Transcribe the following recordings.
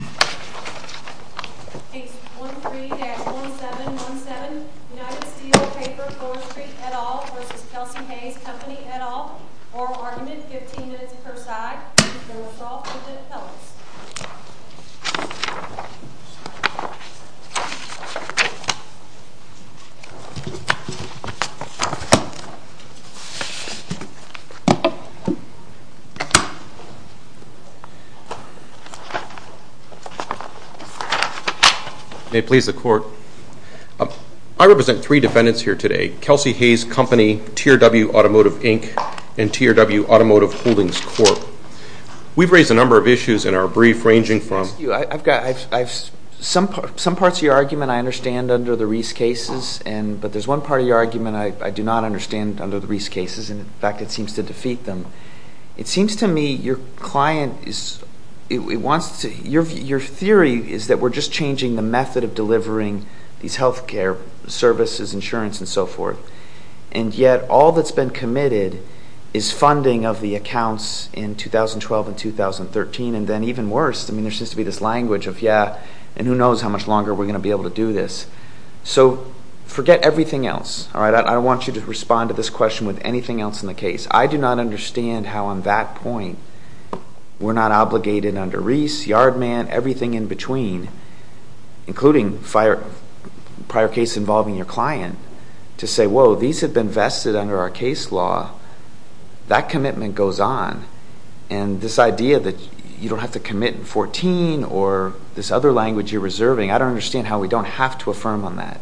Page 13-1717 United Steel Paper Forestry, et al. v. Kelsey-Hayes Company, et al. Oral Argument, 15 minutes per side. May it please the Court. I represent three defendants here today. Kelsey-Hayes Company, TRW Automotive, Inc., and TRW Automotive Holdings Corp. We've raised a number of issues in our brief, ranging from... Excuse you. I've got... Some parts of your argument I understand under the Reese cases, but there's one part of your argument I do not understand under the Reese cases, and in fact it seems to defeat them. It seems to me your client is... It wants to... Your theory is that we're just changing the method of delivering these health care services, insurance, and so forth, and yet all that's been committed is funding of the accounts in 2012 and 2013, and then even worse, I mean, there seems to be this language of, yeah, and who knows how much longer we're going to be able to do this. So forget everything else, all right? I don't want you to respond to this question with anything else in the case. I do not understand how on that point we're not obligated under Reese, Yardman, everything in between, including prior case involving your client, to say, whoa, these have been vested under our case law. That commitment goes on, and this idea that you don't have to commit in 2014 or this other language you're reserving, I don't understand how we don't have to affirm on that.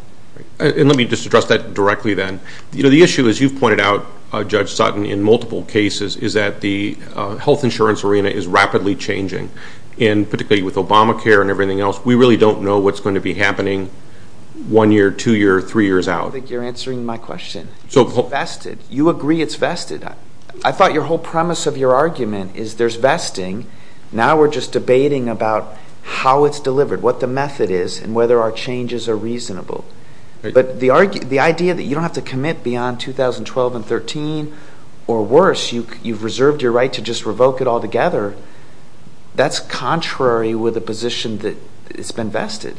And let me just address that directly then. You know, the issue, as you've pointed out, Judge Sutton, in multiple cases, is that the health insurance arena is rapidly changing, and particularly with Obamacare and everything else, we really don't know what's going to be happening one year, two years, three years out. I think you're answering my question. So... It's vested. You agree it's vested. I thought your whole premise of your argument is there's vesting. Now we're just debating about how it's delivered, what the method is, and whether our changes are reasonable. But the idea that you don't have to commit beyond 2012 and 2013 or worse, you've reserved your right to just revoke it altogether, that's contrary with the position that it's been vested.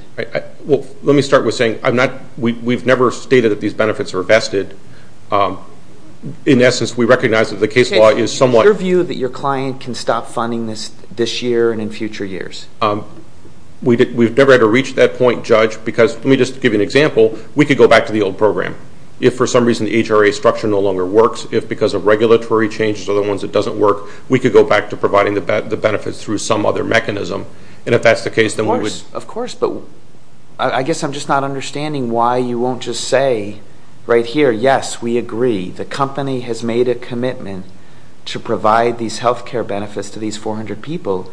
Well, let me start with saying we've never stated that these benefits are vested. In essence, we recognize that the case law is somewhat... Is your view that your client can stop funding this year and in future years? We've never had to reach that point, Judge, because let me just give you an example. We could go back to the old program. If for some reason the HRA structure no longer works, if because of regulatory changes or the ones that doesn't work, we could go back to providing the benefits through some other mechanism. And if that's the case, then we would... Of course. But I guess I'm just not understanding why you won't just say right here, yes, we agree. The company has made a commitment to provide these health care benefits to these 400 people.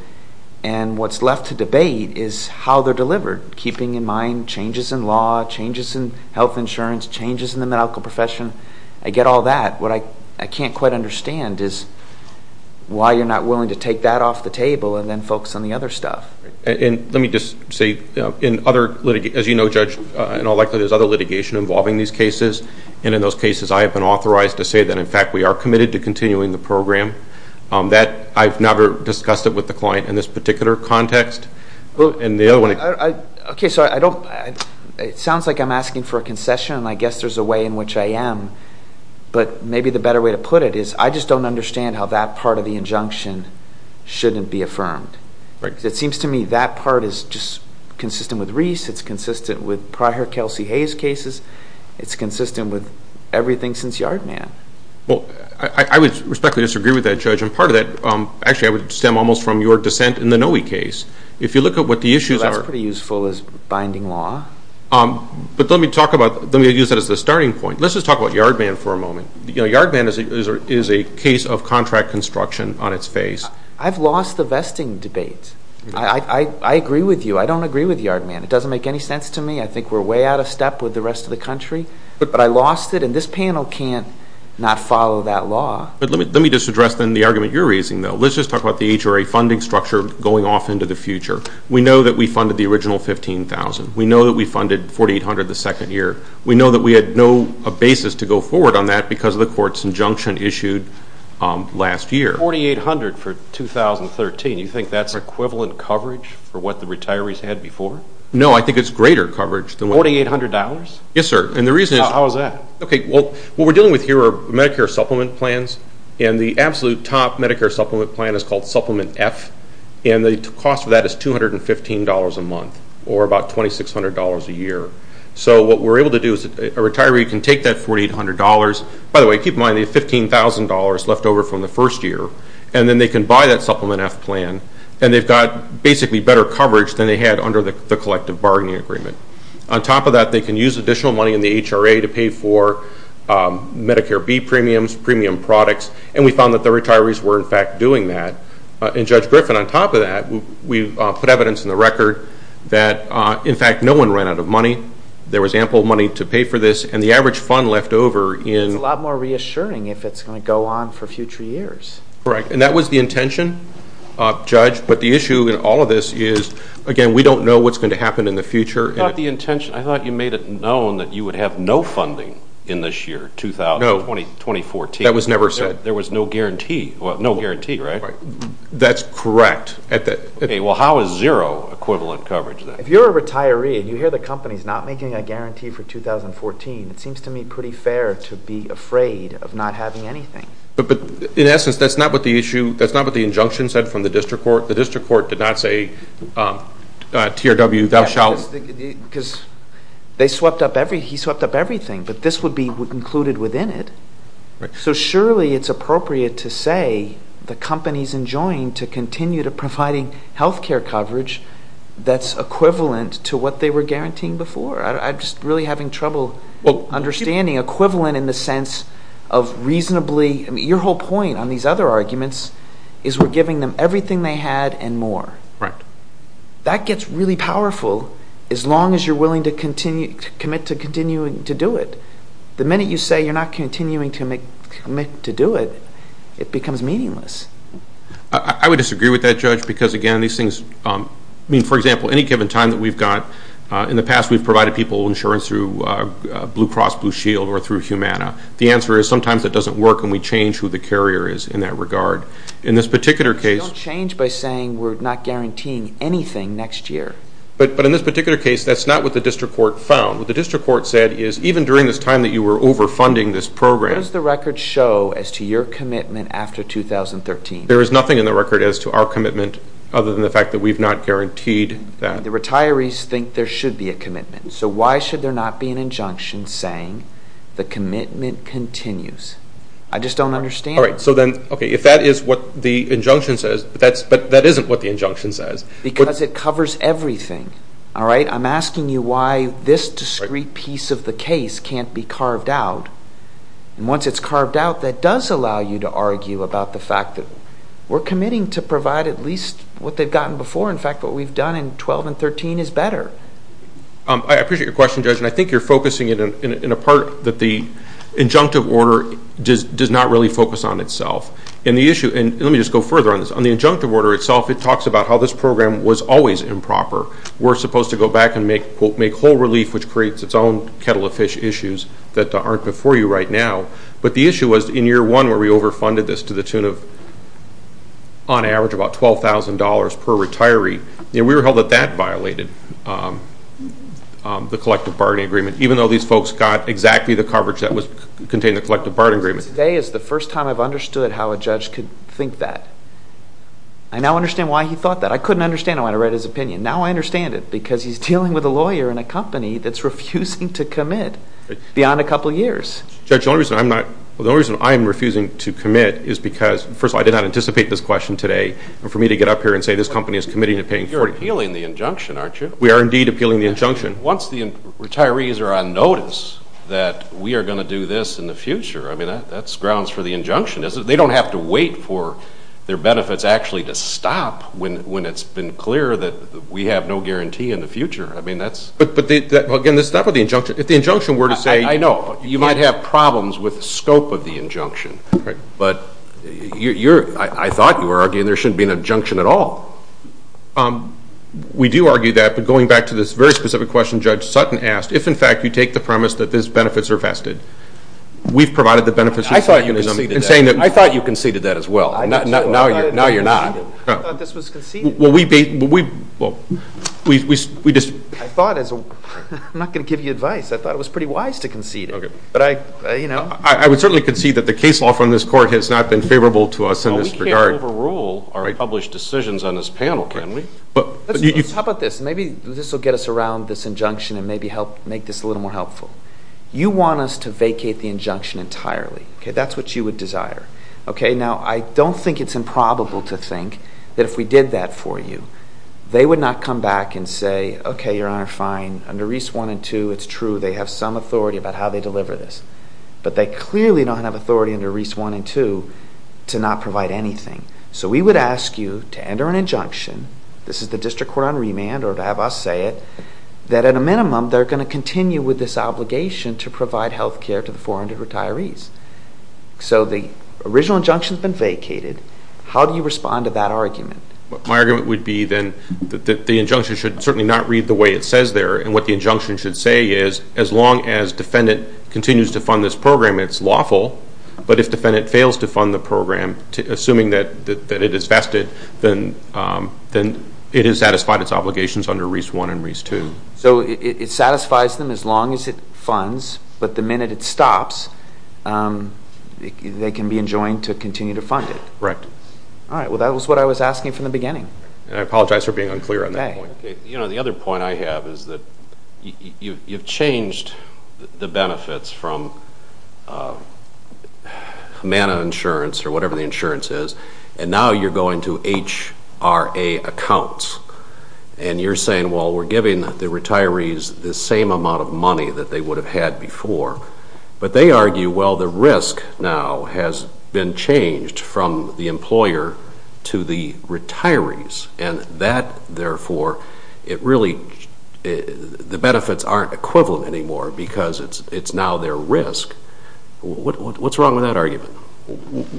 And what's left to debate is how they're delivered, keeping in mind changes in law, changes in health insurance, changes in the medical profession. I get all that. What I can't quite understand is why you're not willing to take that off the table and then focus on the other stuff. And let me just say, as you know, Judge, in all likelihood there's other litigation involving these cases, and in those cases I have been authorized to say that, in fact, we are committed to continuing the program. I've never discussed it with the client in this particular context. And the other one... Okay, so I don't... It sounds like I'm asking for a concession, and I guess there's a way in which I am. But maybe the better way to put it is I just don't understand how that part of the injunction shouldn't be affirmed. Right. It seems to me that part is just consistent with Reese, it's consistent with prior Kelsey Hayes cases, it's consistent with everything since Yard Man. Well, I would respectfully disagree with that, Judge. And part of that, actually, I would stem almost from your dissent in the Noe case. If you look at what the issues are... Well, that's pretty useful as binding law. But let me use that as the starting point. Let's just talk about Yard Man for a moment. Yard Man is a case of contract construction on its face. I've lost the vesting debate. I agree with you. I don't agree with Yard Man. It doesn't make any sense to me. I think we're way out of step with the rest of the country. But I lost it, and this panel can't not follow that law. But let me just address, then, the argument you're raising, though. Let's just talk about the HRA funding structure going off into the future. We know that we funded the original $15,000. We know that we funded $4,800 the second year. We know that we had no basis to go forward on that because of the court's injunction issued last year. $4,800 for 2013, you think that's equivalent coverage for what the retirees had before? No, I think it's greater coverage. $4,800? Yes, sir. How is that? Okay, well, what we're dealing with here are Medicare supplement plans, and the absolute top Medicare supplement plan is called Supplement F, and the cost of that is $215 a month or about $2,600 a year. So what we're able to do is a retiree can take that $4,800. By the way, keep in mind they have $15,000 left over from the first year, and then they can buy that Supplement F plan, and they've got basically better coverage than they had under the collective bargaining agreement. On top of that, they can use additional money in the HRA to pay for Medicare B premiums, premium products, and we found that the retirees were, in fact, doing that. And, Judge Griffin, on top of that, we put evidence in the record that, in fact, no one ran out of money. There was ample money to pay for this, and the average fund left over in – It's a lot more reassuring if it's going to go on for future years. Correct, and that was the intention, Judge, but the issue in all of this is, again, we don't know what's going to happen in the future. I thought you made it known that you would have no funding in this year, 2014. That was never said. There was no guarantee, right? That's correct. Okay, well, how is zero equivalent coverage then? If you're a retiree and you hear the company's not making a guarantee for 2014, it seems to me pretty fair to be afraid of not having anything. But, in essence, that's not what the injunction said from the district court. The district court did not say TRW, thou shalt – Because they swept up – he swept up everything, but this would be included within it. So, surely, it's appropriate to say the company's enjoying to continue to providing health care coverage that's equivalent to what they were guaranteeing before. I'm just really having trouble understanding equivalent in the sense of reasonably – Right. That gets really powerful as long as you're willing to commit to continuing to do it. The minute you say you're not continuing to commit to do it, it becomes meaningless. I would disagree with that, Judge, because, again, these things – I mean, for example, any given time that we've got, in the past we've provided people insurance through Blue Cross Blue Shield or through Humana. The answer is sometimes it doesn't work and we change who the carrier is in that regard. In this particular case – We don't change by saying we're not guaranteeing anything next year. But in this particular case, that's not what the district court found. What the district court said is even during this time that you were overfunding this program – What does the record show as to your commitment after 2013? There is nothing in the record as to our commitment other than the fact that we've not guaranteed that. The retirees think there should be a commitment, so why should there not be an injunction saying the commitment continues? I just don't understand. All right. So then, okay, if that is what the injunction says, but that isn't what the injunction says – Because it covers everything. All right? I'm asking you why this discrete piece of the case can't be carved out. And once it's carved out, that does allow you to argue about the fact that we're committing to provide at least what they've gotten before. In fact, what we've done in 2012 and 2013 is better. I appreciate your question, Judge, and I think you're focusing it in a part that the injunctive order does not really focus on itself. Let me just go further on this. On the injunctive order itself, it talks about how this program was always improper. We're supposed to go back and make whole relief, which creates its own kettle of fish issues that aren't before you right now. But the issue was in year one where we overfunded this to the tune of, on average, about $12,000 per retiree. We were held that that violated the collective bargaining agreement, even though these folks got exactly the coverage that contained the collective bargaining agreement. Today is the first time I've understood how a judge could think that. I now understand why he thought that. I couldn't understand it when I read his opinion. Now I understand it because he's dealing with a lawyer in a company that's refusing to commit beyond a couple years. Judge, the only reason I'm refusing to commit is because, first of all, I did not anticipate this question today. And for me to get up here and say this company is committing to paying $40 million. You're appealing the injunction, aren't you? We are indeed appealing the injunction. Once the retirees are on notice that we are going to do this in the future, I mean, that's grounds for the injunction, isn't it? They don't have to wait for their benefits actually to stop when it's been clear that we have no guarantee in the future. I mean, that's— But, again, that's not for the injunction. If the injunction were to say— I know. You might have problems with the scope of the injunction. Right. But I thought you were arguing there shouldn't be an injunction at all. We do argue that. But going back to this very specific question Judge Sutton asked, if, in fact, you take the premise that these benefits are vested, we've provided the benefits. I thought you conceded that. I'm saying that— I thought you conceded that as well. Now you're not. I thought this was conceded. Well, we— I thought as a—I'm not going to give you advice. I thought it was pretty wise to concede it. Okay. But I, you know— I would certainly concede that the case law from this Court has not been favorable to us in this regard. Well, we can't overrule our published decisions on this panel, can we? But— How about this? Maybe this will get us around this injunction and maybe help make this a little more helpful. You want us to vacate the injunction entirely. Okay? That's what you would desire. Okay? Now, I don't think it's improbable to think that if we did that for you, they would not come back and say, Okay, Your Honor, fine. Under Reis 1 and 2, it's true. They have some authority about how they deliver this. But they clearly don't have authority under Reis 1 and 2 to not provide anything. So we would ask you to enter an injunction—this is the District Court on remand or to have us say it— that at a minimum, they're going to continue with this obligation to provide health care to the 400 retirees. So the original injunction has been vacated. How do you respond to that argument? My argument would be, then, that the injunction should certainly not read the way it says there. And what the injunction should say is, as long as defendant continues to fund this program, it's lawful. But if defendant fails to fund the program, assuming that it is vested, then it has satisfied its obligations under Reis 1 and Reis 2. So it satisfies them as long as it funds. But the minute it stops, they can be enjoined to continue to fund it. Right. All right. Well, that was what I was asking from the beginning. And I apologize for being unclear on that point. Okay. You know, the other point I have is that you've changed the benefits from Manna insurance or whatever the insurance is, and now you're going to HRA accounts. And you're saying, well, we're giving the retirees the same amount of money that they would have had before. But they argue, well, the risk now has been changed from the employer to the retirees. And that, therefore, it really the benefits aren't equivalent anymore because it's now their risk. What's wrong with that argument?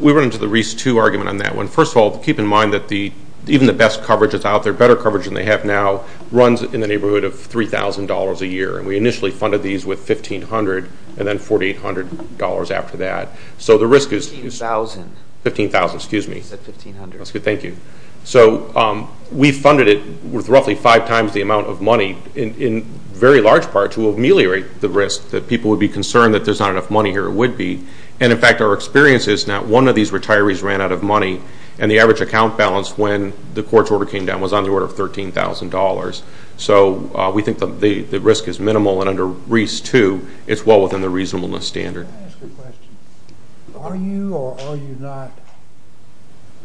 We run into the Reis 2 argument on that one. First of all, keep in mind that even the best coverage that's out there, better coverage than they have now, runs in the neighborhood of $3,000 a year. And we initially funded these with $1,500 and then $4,800 after that. So the risk is $15,000. Excuse me. I said $1,500. That's good. Thank you. So we funded it with roughly five times the amount of money, in very large part, to ameliorate the risk that people would be concerned that there's not enough money here or would be. And, in fact, our experience is not one of these retirees ran out of money, and the average account balance when the court's order came down was on the order of $13,000. So we think the risk is minimal. And under Reis 2, it's well within the reasonableness standard. Can I ask a question? Are you or are you not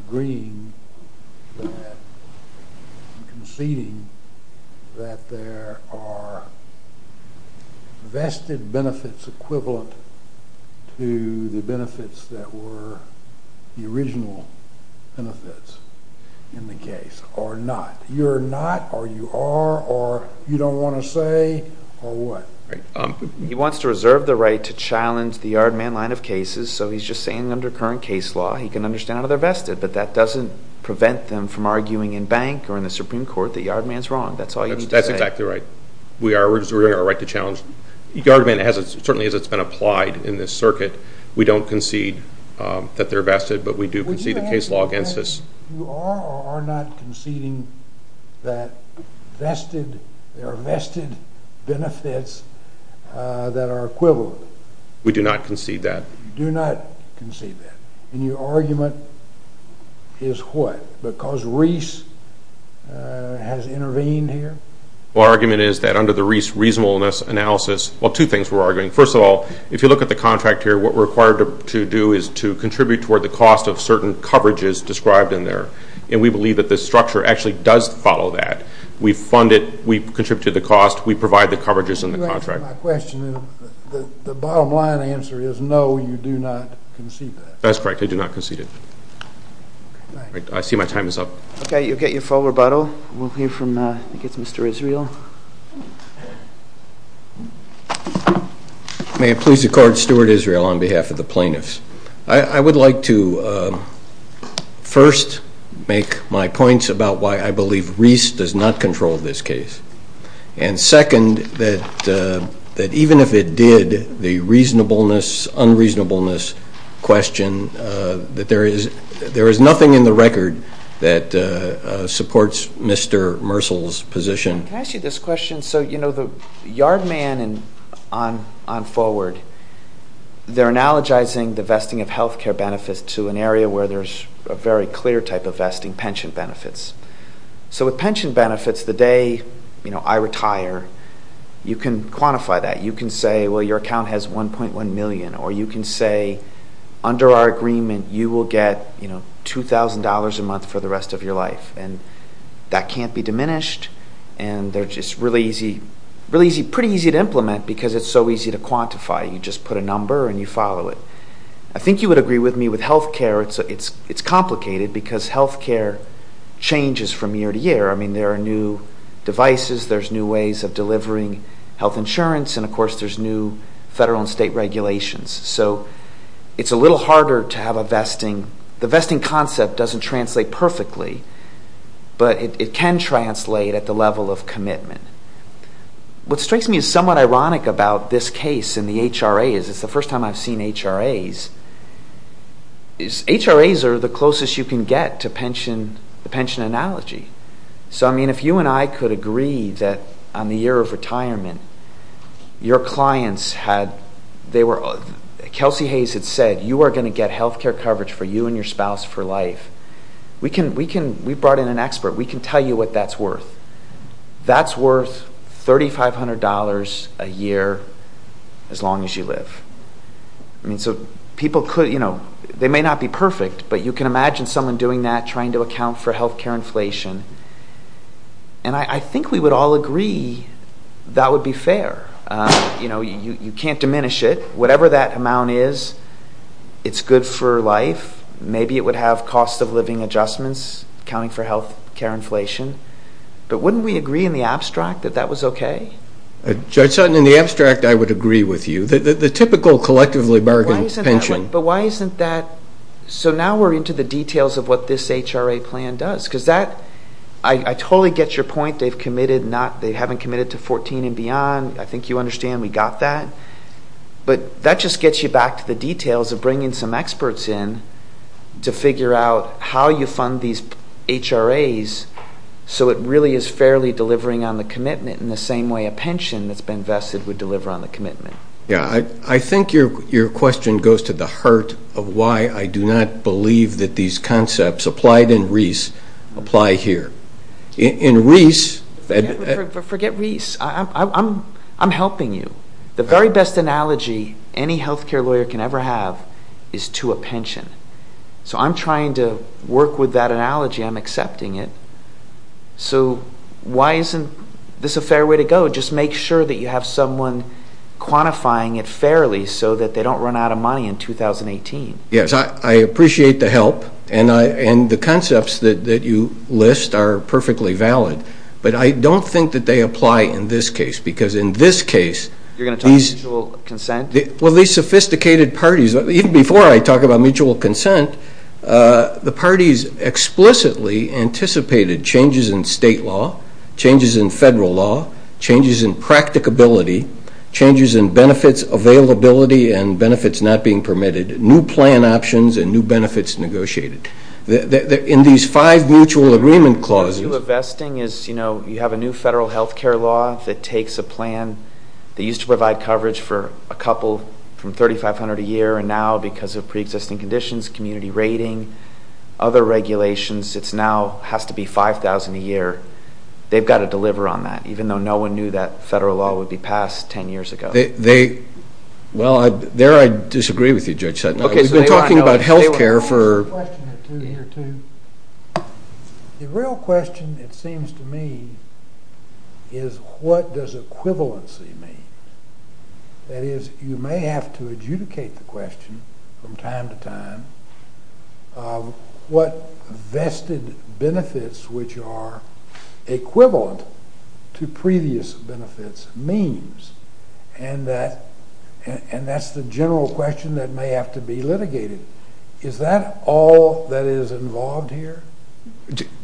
agreeing that and conceding that there are vested benefits equivalent to the benefits that were the original benefits in the case, or not? You're not or you are or you don't want to say or what? He wants to reserve the right to challenge the Yardman line of cases, so he's just saying under current case law he can understand how they're vested, but that doesn't prevent them from arguing in bank or in the Supreme Court that Yardman's wrong. That's all you need to say. That's exactly right. We are reserving our right to challenge. Yardman, certainly as it's been applied in this circuit, we don't concede that they're vested, but we do concede the case law against us. You are or are not conceding that there are vested benefits that are equivalent? We do not concede that. You do not concede that. And your argument is what? Because Reis has intervened here? Well, our argument is that under the Reis reasonableness analysis, well, two things we're arguing. First of all, if you look at the contract here, what we're required to do is to contribute toward the cost of certain coverages described in there, and we believe that the structure actually does follow that. We fund it. We contribute to the cost. We provide the coverages in the contract. To answer my question, the bottom line answer is no, you do not concede that. That's correct. I do not concede it. I see my time is up. Okay. You'll get your full rebuttal. We'll hear from I think it's Mr. Israel. May it please the Court? Stuart Israel on behalf of the plaintiffs. I would like to first make my points about why I believe Reis does not control this case, and second, that even if it did, the reasonableness, unreasonableness question, that there is nothing in the record that supports Mr. Mersel's position. Can I ask you this question? So, you know, the Yard Man and On Forward, they're analogizing the vesting of health care benefits to an area where there's a very clear type of vesting, pension benefits. So with pension benefits, the day, you know, I retire, you can quantify that. You can say, well, your account has $1.1 million, or you can say under our agreement you will get, you know, $2,000 a month for the rest of your life, and that can't be diminished, and they're just really easy, pretty easy to implement because it's so easy to quantify. You just put a number and you follow it. I think you would agree with me with health care. It's complicated because health care changes from year to year. I mean, there are new devices, there's new ways of delivering health insurance, and of course there's new federal and state regulations. So it's a little harder to have a vesting. I mean, the vesting concept doesn't translate perfectly, but it can translate at the level of commitment. What strikes me as somewhat ironic about this case and the HRAs, it's the first time I've seen HRAs, is HRAs are the closest you can get to the pension analogy. So, I mean, if you and I could agree that on the year of retirement, your clients had, they were, Kelsey Hayes had said, you are going to get health care coverage for you and your spouse for life. We brought in an expert. We can tell you what that's worth. That's worth $3,500 a year as long as you live. I mean, so people could, you know, they may not be perfect, but you can imagine someone doing that, trying to account for health care inflation, and I think we would all agree that would be fair. You know, you can't diminish it. Whatever that amount is, it's good for life. Maybe it would have cost-of-living adjustments, accounting for health care inflation, but wouldn't we agree in the abstract that that was okay? Judge Sutton, in the abstract, I would agree with you. The typical collectively bargained pension. But why isn't that, so now we're into the details of what this HRA plan does because that, I totally get your point. They've committed not, they haven't committed to 14 and beyond. I think you understand we got that. But that just gets you back to the details of bringing some experts in to figure out how you fund these HRAs so it really is fairly delivering on the commitment in the same way a pension that's been vested would deliver on the commitment. Yeah, I think your question goes to the heart of why I do not believe that these concepts applied in REIS apply here. In REIS... Forget REIS. I'm helping you. The very best analogy any health care lawyer can ever have is to a pension. So I'm trying to work with that analogy. I'm accepting it. So why isn't this a fair way to go? Just make sure that you have someone quantifying it fairly so that they don't run out of money in 2018. Yes, I appreciate the help, and the concepts that you list are perfectly valid. But I don't think that they apply in this case because in this case... You're going to talk about mutual consent? Well, these sophisticated parties, even before I talk about mutual consent, the parties explicitly anticipated changes in state law, changes in federal law, changes in practicability, changes in benefits availability and benefits not being permitted, new plan options and new benefits negotiated. In these five mutual agreement clauses... What you're vesting is, you know, you have a new federal health care law that takes a plan that used to provide coverage for a couple from $3,500 a year and now because of preexisting conditions, community rating, other regulations, it now has to be $5,000 a year. They've got to deliver on that, even though no one knew that federal law would be passed 10 years ago. Well, there I disagree with you, Judge Sutton. We've been talking about health care for a year or two. The real question, it seems to me, is what does equivalency mean? That is, you may have to adjudicate the question from time to time what vested benefits, which are equivalent to previous benefits, means, and that's the general question that may have to be litigated. Is that all that is involved here?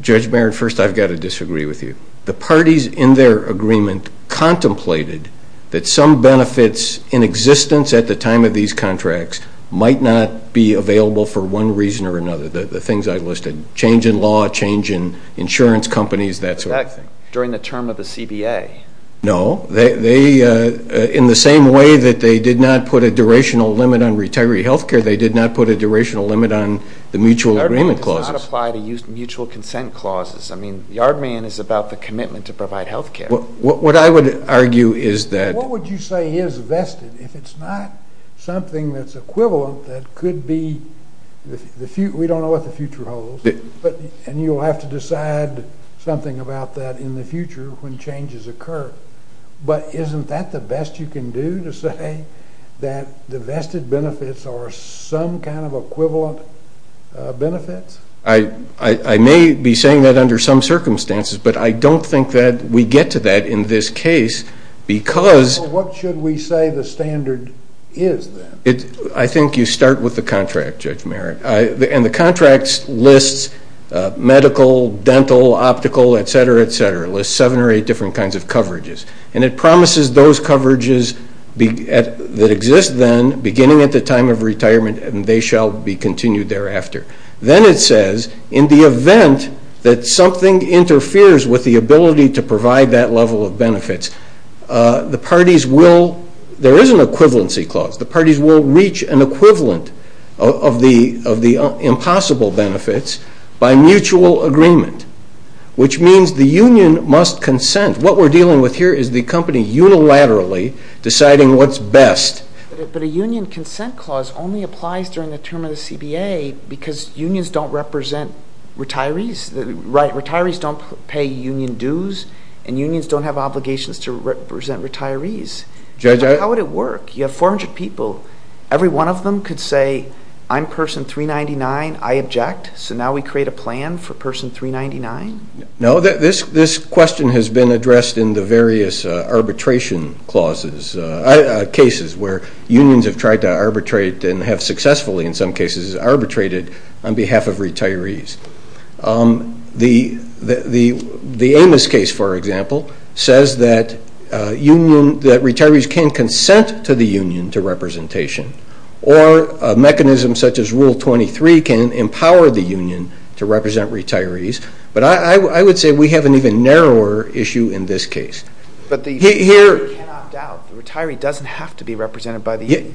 Judge Barrett, first I've got to disagree with you. The parties in their agreement contemplated that some benefits in existence at the time of these contracts might not be available for one reason or another, the things I listed, change in law, change in insurance companies, that sort of thing. During the term of the CBA? No. In the same way that they did not put a durational limit on retiree health care, they did not put a durational limit on the mutual agreement clause. Yardman does not apply to mutual consent clauses. I mean, Yardman is about the commitment to provide health care. What I would argue is that What would you say is vested? If it's not something that's equivalent that could be, we don't know what the future holds, and you'll have to decide something about that in the future when changes occur. But isn't that the best you can do to say that the vested benefits are some kind of equivalent benefits? I may be saying that under some circumstances, but I don't think that we get to that in this case because What should we say the standard is then? I think you start with the contract, Judge Merrick. And the contract lists medical, dental, optical, et cetera, et cetera. It lists seven or eight different kinds of coverages. And it promises those coverages that exist then, beginning at the time of retirement, and they shall be continued thereafter. Then it says, in the event that something interferes with the ability to provide that level of benefits, there is an equivalency clause. The parties will reach an equivalent of the impossible benefits by mutual agreement, which means the union must consent. What we're dealing with here is the company unilaterally deciding what's best. But a union consent clause only applies during the term of the CBA because unions don't represent retirees. Retirees don't pay union dues, and unions don't have obligations to represent retirees. Judge, I How would it work? You have 400 people. Every one of them could say, I'm person 399. I object. So now we create a plan for person 399? No, this question has been addressed in the various arbitration clauses, cases where unions have tried to arbitrate and have successfully, in some cases, arbitrated on behalf of retirees. The Amos case, for example, says that retirees can consent to the union to representation, or a mechanism such as Rule 23 can empower the union to represent retirees. But I would say we have an even narrower issue in this case. But the union cannot opt out. The retiree doesn't have to be represented by the union.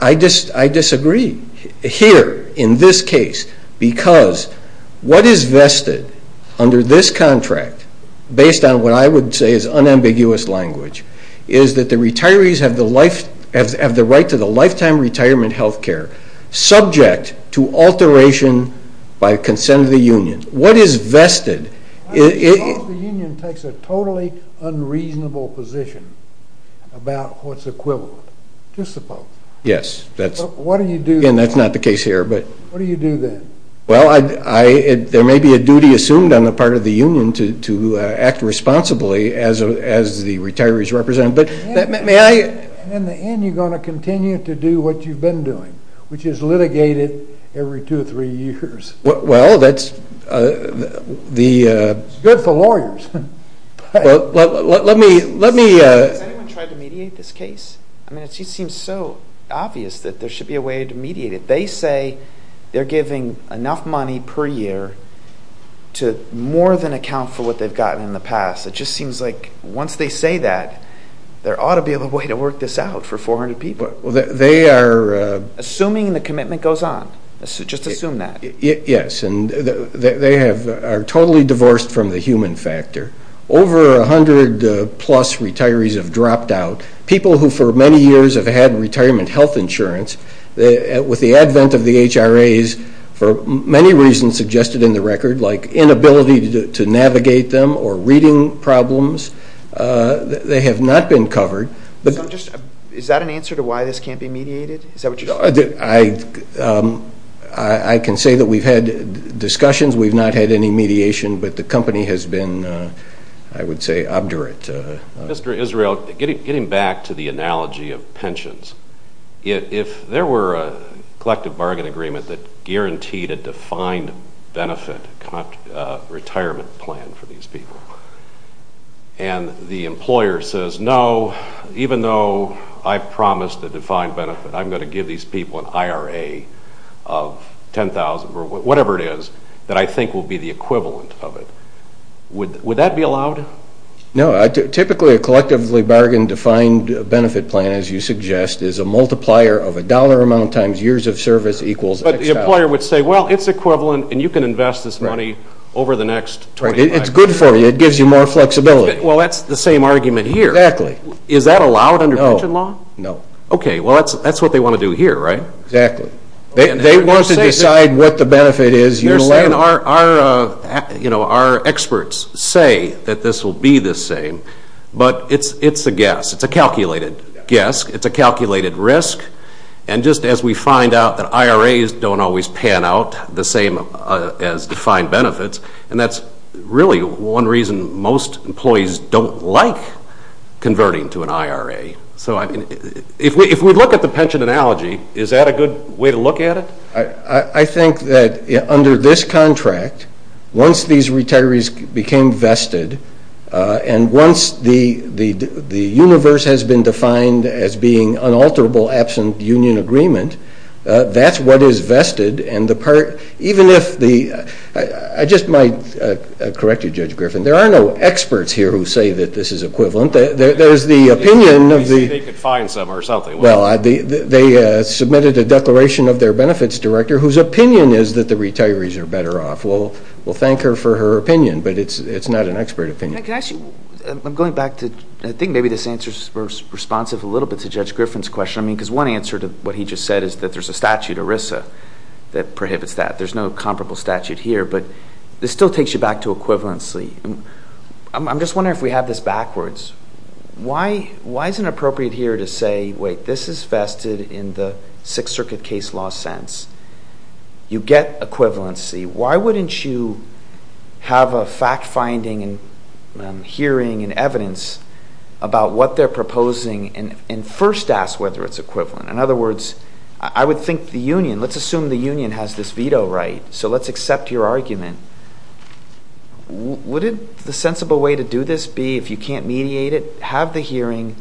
I disagree here in this case because what is vested under this contract, based on what I would say is unambiguous language, is that the retirees have the right to the lifetime retirement health care, subject to alteration by consent of the union. What is vested? I suppose the union takes a totally unreasonable position about what's equivalent. Just suppose. Yes, that's not the case here. What do you do then? Well, there may be a duty assumed on the part of the union to act responsibly as the retirees represent. In the end, you're going to continue to do what you've been doing, which is litigate it every two or three years. Well, that's the— It's good for lawyers. Well, let me— Has anyone tried to mediate this case? I mean, it just seems so obvious that there should be a way to mediate it. They say they're giving enough money per year to more than account for what they've gotten in the past. It just seems like once they say that, there ought to be a way to work this out for 400 people. They are— Assuming the commitment goes on. Just assume that. Yes, and they are totally divorced from the human factor. Over 100-plus retirees have dropped out. People who for many years have had retirement health insurance, with the advent of the HRAs, for many reasons suggested in the record, like inability to navigate them or reading problems, they have not been covered. Is that an answer to why this can't be mediated? Is that what you're saying? I can say that we've had discussions. We've not had any mediation, but the company has been, I would say, obdurate. Mr. Israel, getting back to the analogy of pensions, if there were a collective bargain agreement that guaranteed a defined benefit retirement plan for these people, and the employer says, no, even though I've promised a defined benefit, I'm going to give these people an IRA of $10,000, or whatever it is, that I think will be the equivalent of it, would that be allowed? No. Typically, a collectively bargained defined benefit plan, as you suggest, is a multiplier of a dollar amount times years of service equals XL. But the employer would say, well, it's equivalent, and you can invest this money over the next 28 months. It's good for you. It gives you more flexibility. Well, that's the same argument here. Exactly. Is that allowed under pension law? No. Okay. Well, that's what they want to do here, right? Exactly. They want to decide what the benefit is. Our experts say that this will be the same, but it's a guess. It's a calculated guess. It's a calculated risk. And just as we find out that IRAs don't always pan out the same as defined benefits, and that's really one reason most employees don't like converting to an IRA. So, I mean, if we look at the pension analogy, is that a good way to look at it? I think that under this contract, once these retirees became vested and once the universe has been defined as being unalterable absent union agreement, that's what is vested. Even if the ñ I just might correct you, Judge Griffin. There are no experts here who say that this is equivalent. There's the opinion of the ñ They could find someone or something. Well, they submitted a declaration of their benefits director whose opinion is that the retirees are better off. We'll thank her for her opinion, but it's not an expert opinion. Can I ask you ñ I'm going back to ñ I think maybe this answer is responsive a little bit to Judge Griffin's question, because one answer to what he just said is that there's a statute, ERISA, that prohibits that. There's no comparable statute here, but this still takes you back to equivalency. I'm just wondering if we have this backwards. Why is it appropriate here to say, wait, this is vested in the Sixth Circuit case law sense. You get equivalency. Why wouldn't you have a fact-finding and hearing and evidence about what they're proposing and first ask whether it's equivalent? In other words, I would think the union ñ let's assume the union has this veto right, so let's accept your argument. Wouldn't the sensible way to do this be, if you can't mediate it, have the hearing,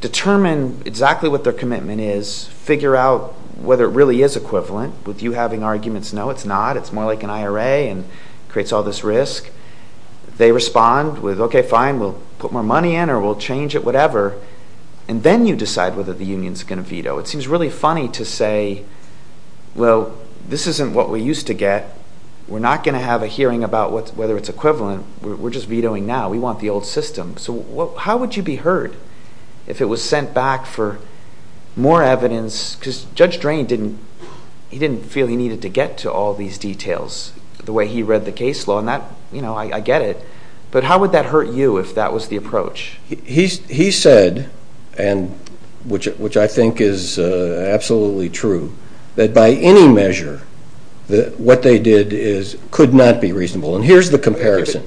determine exactly what their commitment is, figure out whether it really is equivalent? Would you having arguments, no, it's not, it's more like an IRA and creates all this risk? They respond with, okay, fine, we'll put more money in or we'll change it, whatever, and then you decide whether the union's going to veto. It seems really funny to say, well, this isn't what we used to get. We're not going to have a hearing about whether it's equivalent. We're just vetoing now. We want the old system. So how would you be heard if it was sent back for more evidence? Because Judge Drain, he didn't feel he needed to get to all these details the way he read the case law, and I get it, but how would that hurt you if that was the approach? He said, which I think is absolutely true, that by any measure what they did could not be reasonable, and here's the comparison.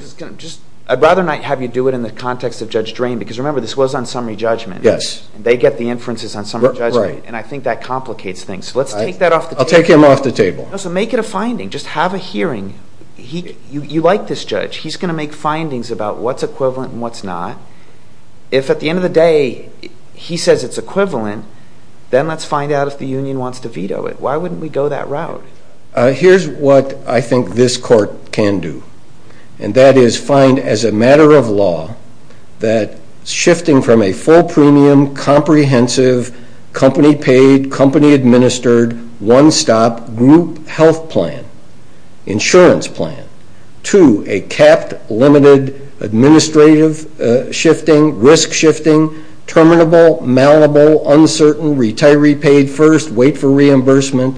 I'd rather not have you do it in the context of Judge Drain because, remember, this was on summary judgment. Yes. They get the inferences on summary judgment, and I think that complicates things. So let's take that off the table. I'll take him off the table. So make it a finding. Just have a hearing. You like this judge. He's going to make findings about what's equivalent and what's not. If at the end of the day he says it's equivalent, then let's find out if the union wants to veto it. Why wouldn't we go that route? Here's what I think this court can do, and that is find as a matter of law that shifting from a full premium, comprehensive, company-paid, company-administered, one-stop group health plan, insurance plan, to a capped, limited, administrative shifting, risk shifting, terminable, malleable, uncertain, retiree paid first, wait for reimbursement,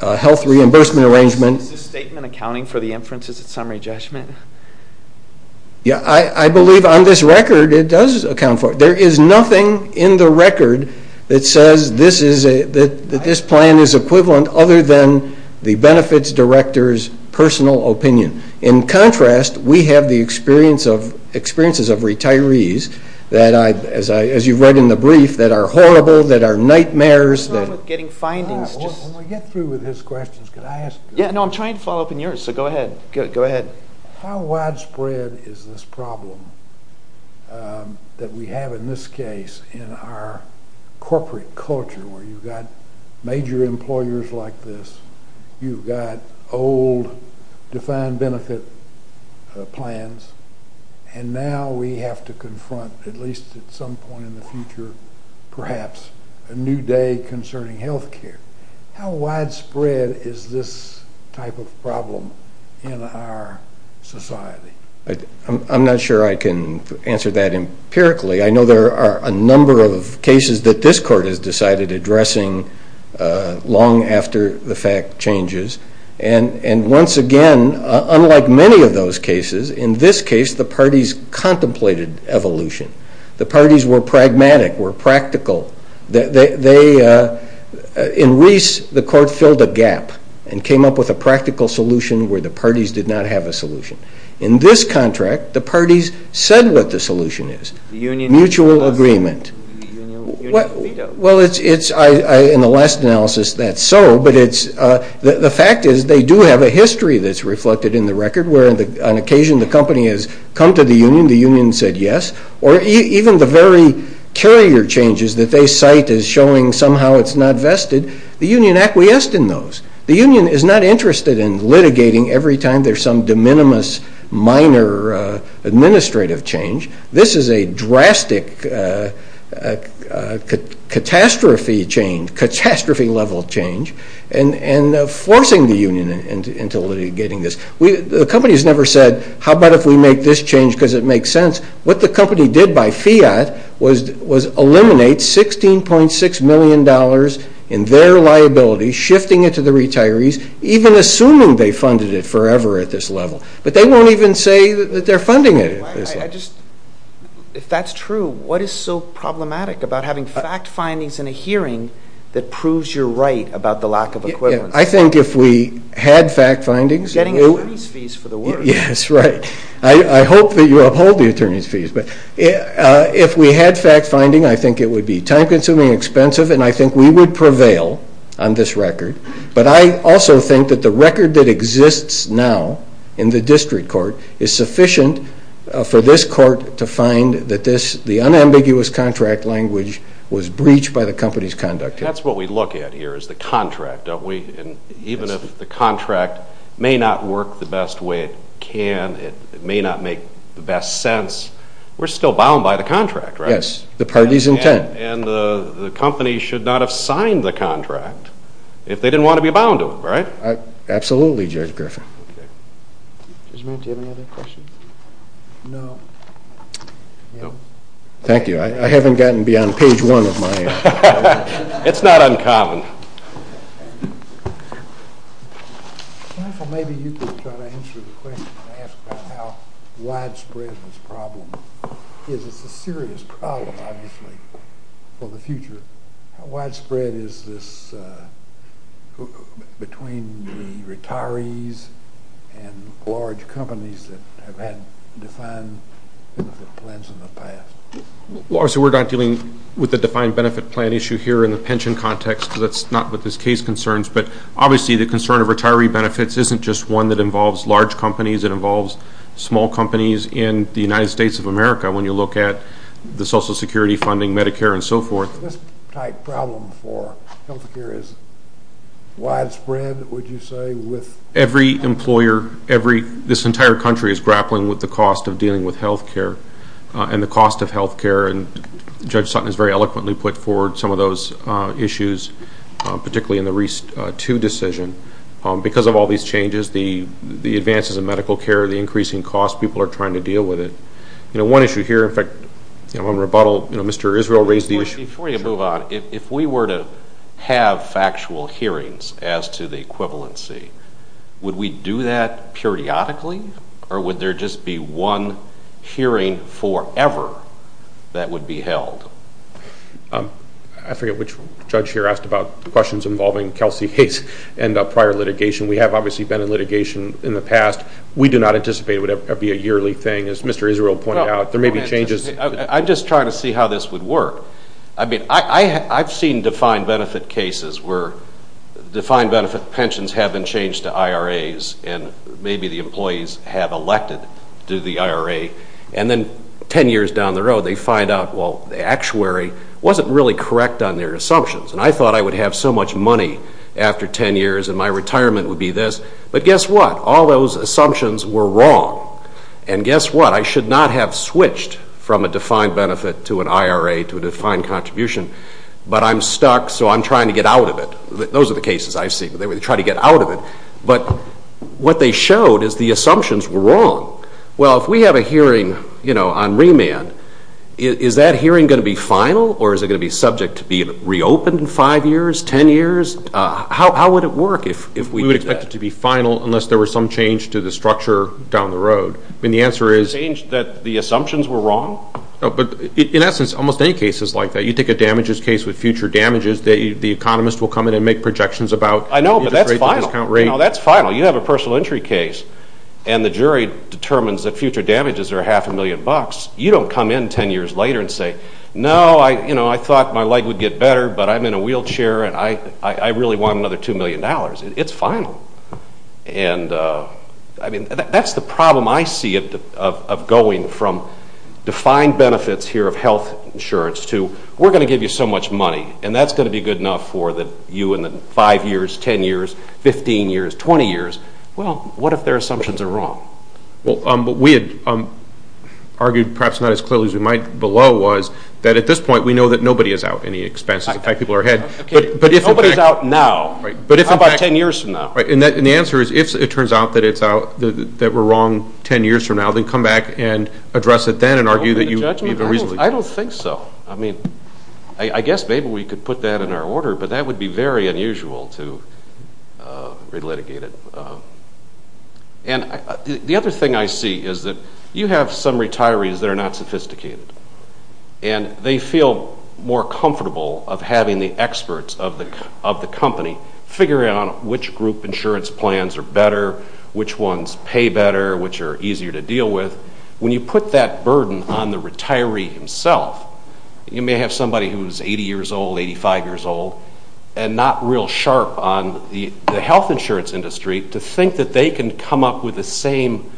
health reimbursement arrangement. Is this statement accounting for the inferences at summary judgment? I believe on this record it does account for it. There is nothing in the record that says that this plan is equivalent other than the benefits director's personal opinion. In contrast, we have the experiences of retirees that, as you've read in the brief, that are horrible, that are nightmares. When we get through with his questions, can I ask? No, I'm trying to follow up on yours, so go ahead. How widespread is this problem that we have in this case in our corporate culture, where you've got major employers like this, you've got old defined benefit plans, and now we have to confront, at least at some point in the future, perhaps a new day concerning health care. How widespread is this type of problem in our society? I'm not sure I can answer that empirically. I know there are a number of cases that this court has decided addressing long after the fact changes. And once again, unlike many of those cases, in this case the parties contemplated evolution. The parties were pragmatic, were practical. In Reese, the court filled a gap and came up with a practical solution where the parties did not have a solution. In this contract, the parties said what the solution is, mutual agreement. Well, in the last analysis that's so, but the fact is they do have a history that's reflected in the record where on occasion the company has come to the union, the union said yes, or even the very carrier changes that they cite as showing somehow it's not vested, the union acquiesced in those. The union is not interested in litigating every time there's some de minimis minor administrative change. This is a drastic catastrophe level change and forcing the union into litigating this. The company has never said how about if we make this change because it makes sense. What the company did by fiat was eliminate $16.6 million in their liability, shifting it to the retirees, even assuming they funded it forever at this level. But they won't even say that they're funding it at this level. If that's true, what is so problematic about having fact findings in a hearing that proves you're right about the lack of equivalence? I think if we had fact findings. Getting attorneys fees for the work. Yes, right. I hope that you uphold the attorneys fees. But if we had fact finding, I think it would be time consuming, expensive, and I think we would prevail on this record. But I also think that the record that exists now in the district court is sufficient for this court to find that this, the unambiguous contract language was breached by the company's conduct. That's what we look at here is the contract, don't we? Even if the contract may not work the best way it can, it may not make the best sense, we're still bound by the contract, right? Yes, the party's intent. And the company should not have signed the contract if they didn't want to be bound to it, right? Absolutely, Judge Griffin. Judge Mann, do you have any other questions? No. Thank you. I haven't gotten beyond page one of my answer. It's not uncommon. Maybe you could try to answer the question and ask about how widespread this problem is. It's a serious problem, obviously, for the future. How widespread is this between the retirees and large companies that have had defined benefit plans in the past? Well, obviously, we're not dealing with the defined benefit plan issue here in the pension context. That's not what this case concerns. But obviously, the concern of retiree benefits isn't just one that involves large companies. It involves small companies in the United States of America when you look at the Social Security funding, Medicare, and so forth. This type of problem for health care is widespread, would you say, with? Every employer, this entire country is grappling with the cost of dealing with health care and the cost of health care. And Judge Sutton has very eloquently put forward some of those issues, particularly in the REAST 2 decision. Because of all these changes, the advances in medical care, the increasing cost, people are trying to deal with it. One issue here, in fact, on rebuttal, Mr. Israel raised the issue. Before you move on, if we were to have factual hearings as to the equivalency, would we do that periodically? Or would there just be one hearing forever that would be held? I forget which judge here asked about the questions involving Kelsey Hayes and prior litigation. We have obviously been in litigation in the past. We do not anticipate it would be a yearly thing. As Mr. Israel pointed out, there may be changes. I'm just trying to see how this would work. I mean, I've seen defined benefit cases where defined benefit pensions have been changed to IRAs and maybe the employees have elected to the IRA. And then 10 years down the road, they find out, well, the actuary wasn't really correct on their assumptions. And I thought I would have so much money after 10 years and my retirement would be this. But guess what? All those assumptions were wrong. And guess what? I should not have switched from a defined benefit to an IRA to a defined contribution. But I'm stuck, so I'm trying to get out of it. Those are the cases I've seen. They would try to get out of it. But what they showed is the assumptions were wrong. Well, if we have a hearing, you know, on remand, is that hearing going to be final or is it going to be subject to being reopened in 5 years, 10 years? How would it work if we did that? It would have to be final unless there was some change to the structure down the road. I mean, the answer is the assumptions were wrong. But in essence, almost any case is like that. You take a damages case with future damages, the economist will come in and make projections about interest rate, discount rate. I know, but that's final. You know, that's final. You have a personal injury case, and the jury determines that future damages are half a million bucks. You don't come in 10 years later and say, no, you know, I thought my leg would get better, but I'm in a wheelchair and I really want another $2 million. It's final. And, I mean, that's the problem I see of going from defined benefits here of health insurance to we're going to give you so much money, and that's going to be good enough for you in the 5 years, 10 years, 15 years, 20 years. Well, what if their assumptions are wrong? Well, what we had argued perhaps not as clearly as we might below was that at this point, we know that nobody is out any expenses. In fact, people are ahead. Nobody is out now. Right. How about 10 years from now? Right. And the answer is if it turns out that we're wrong 10 years from now, then come back and address it then and argue that you even reasonably. I don't think so. I mean, I guess maybe we could put that in our order, but that would be very unusual to relitigate it. And the other thing I see is that you have some retirees that are not sophisticated, and they feel more comfortable of having the experts of the company figuring out which group insurance plans are better, which ones pay better, which are easier to deal with. When you put that burden on the retiree himself, you may have somebody who is 80 years old, 85 years old, and not real sharp on the health insurance industry to think that they can come up with the same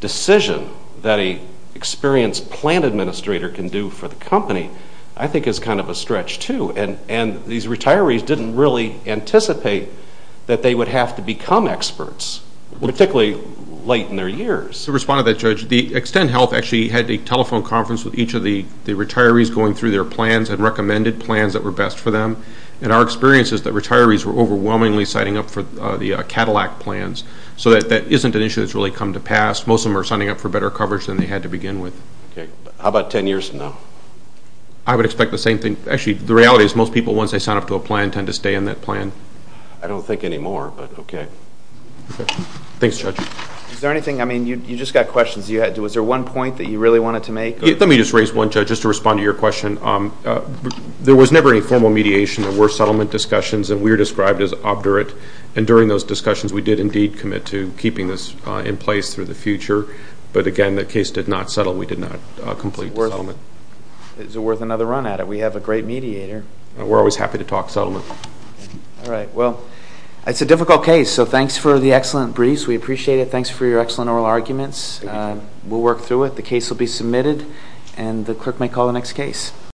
decision that an experienced plan administrator can do for the company, I think is kind of a stretch too. And these retirees didn't really anticipate that they would have to become experts, particularly late in their years. To respond to that, Judge, Extend Health actually had a telephone conference with each of the retirees going through their plans and recommended plans that were best for them. And our experience is that retirees were overwhelmingly signing up for the Cadillac plans, so that isn't an issue that's really come to pass. Most of them are signing up for better coverage than they had to begin with. Okay. How about 10 years from now? I would expect the same thing. Actually, the reality is most people, once they sign up to a plan, tend to stay in that plan. I don't think anymore, but okay. Thanks, Judge. Is there anything? I mean, you just got questions. Was there one point that you really wanted to make? Let me just raise one, Judge, just to respond to your question. There was never any formal mediation. There were settlement discussions, and we are described as obdurate. And during those discussions, we did indeed commit to keeping this in place through the future. But, again, the case did not settle. We did not complete the settlement. Is it worth another run at it? We have a great mediator. We're always happy to talk settlement. All right. Well, it's a difficult case, so thanks for the excellent briefs. We appreciate it. Thanks for your excellent oral arguments. We'll work through it. The case will be submitted, and the clerk may call the next case.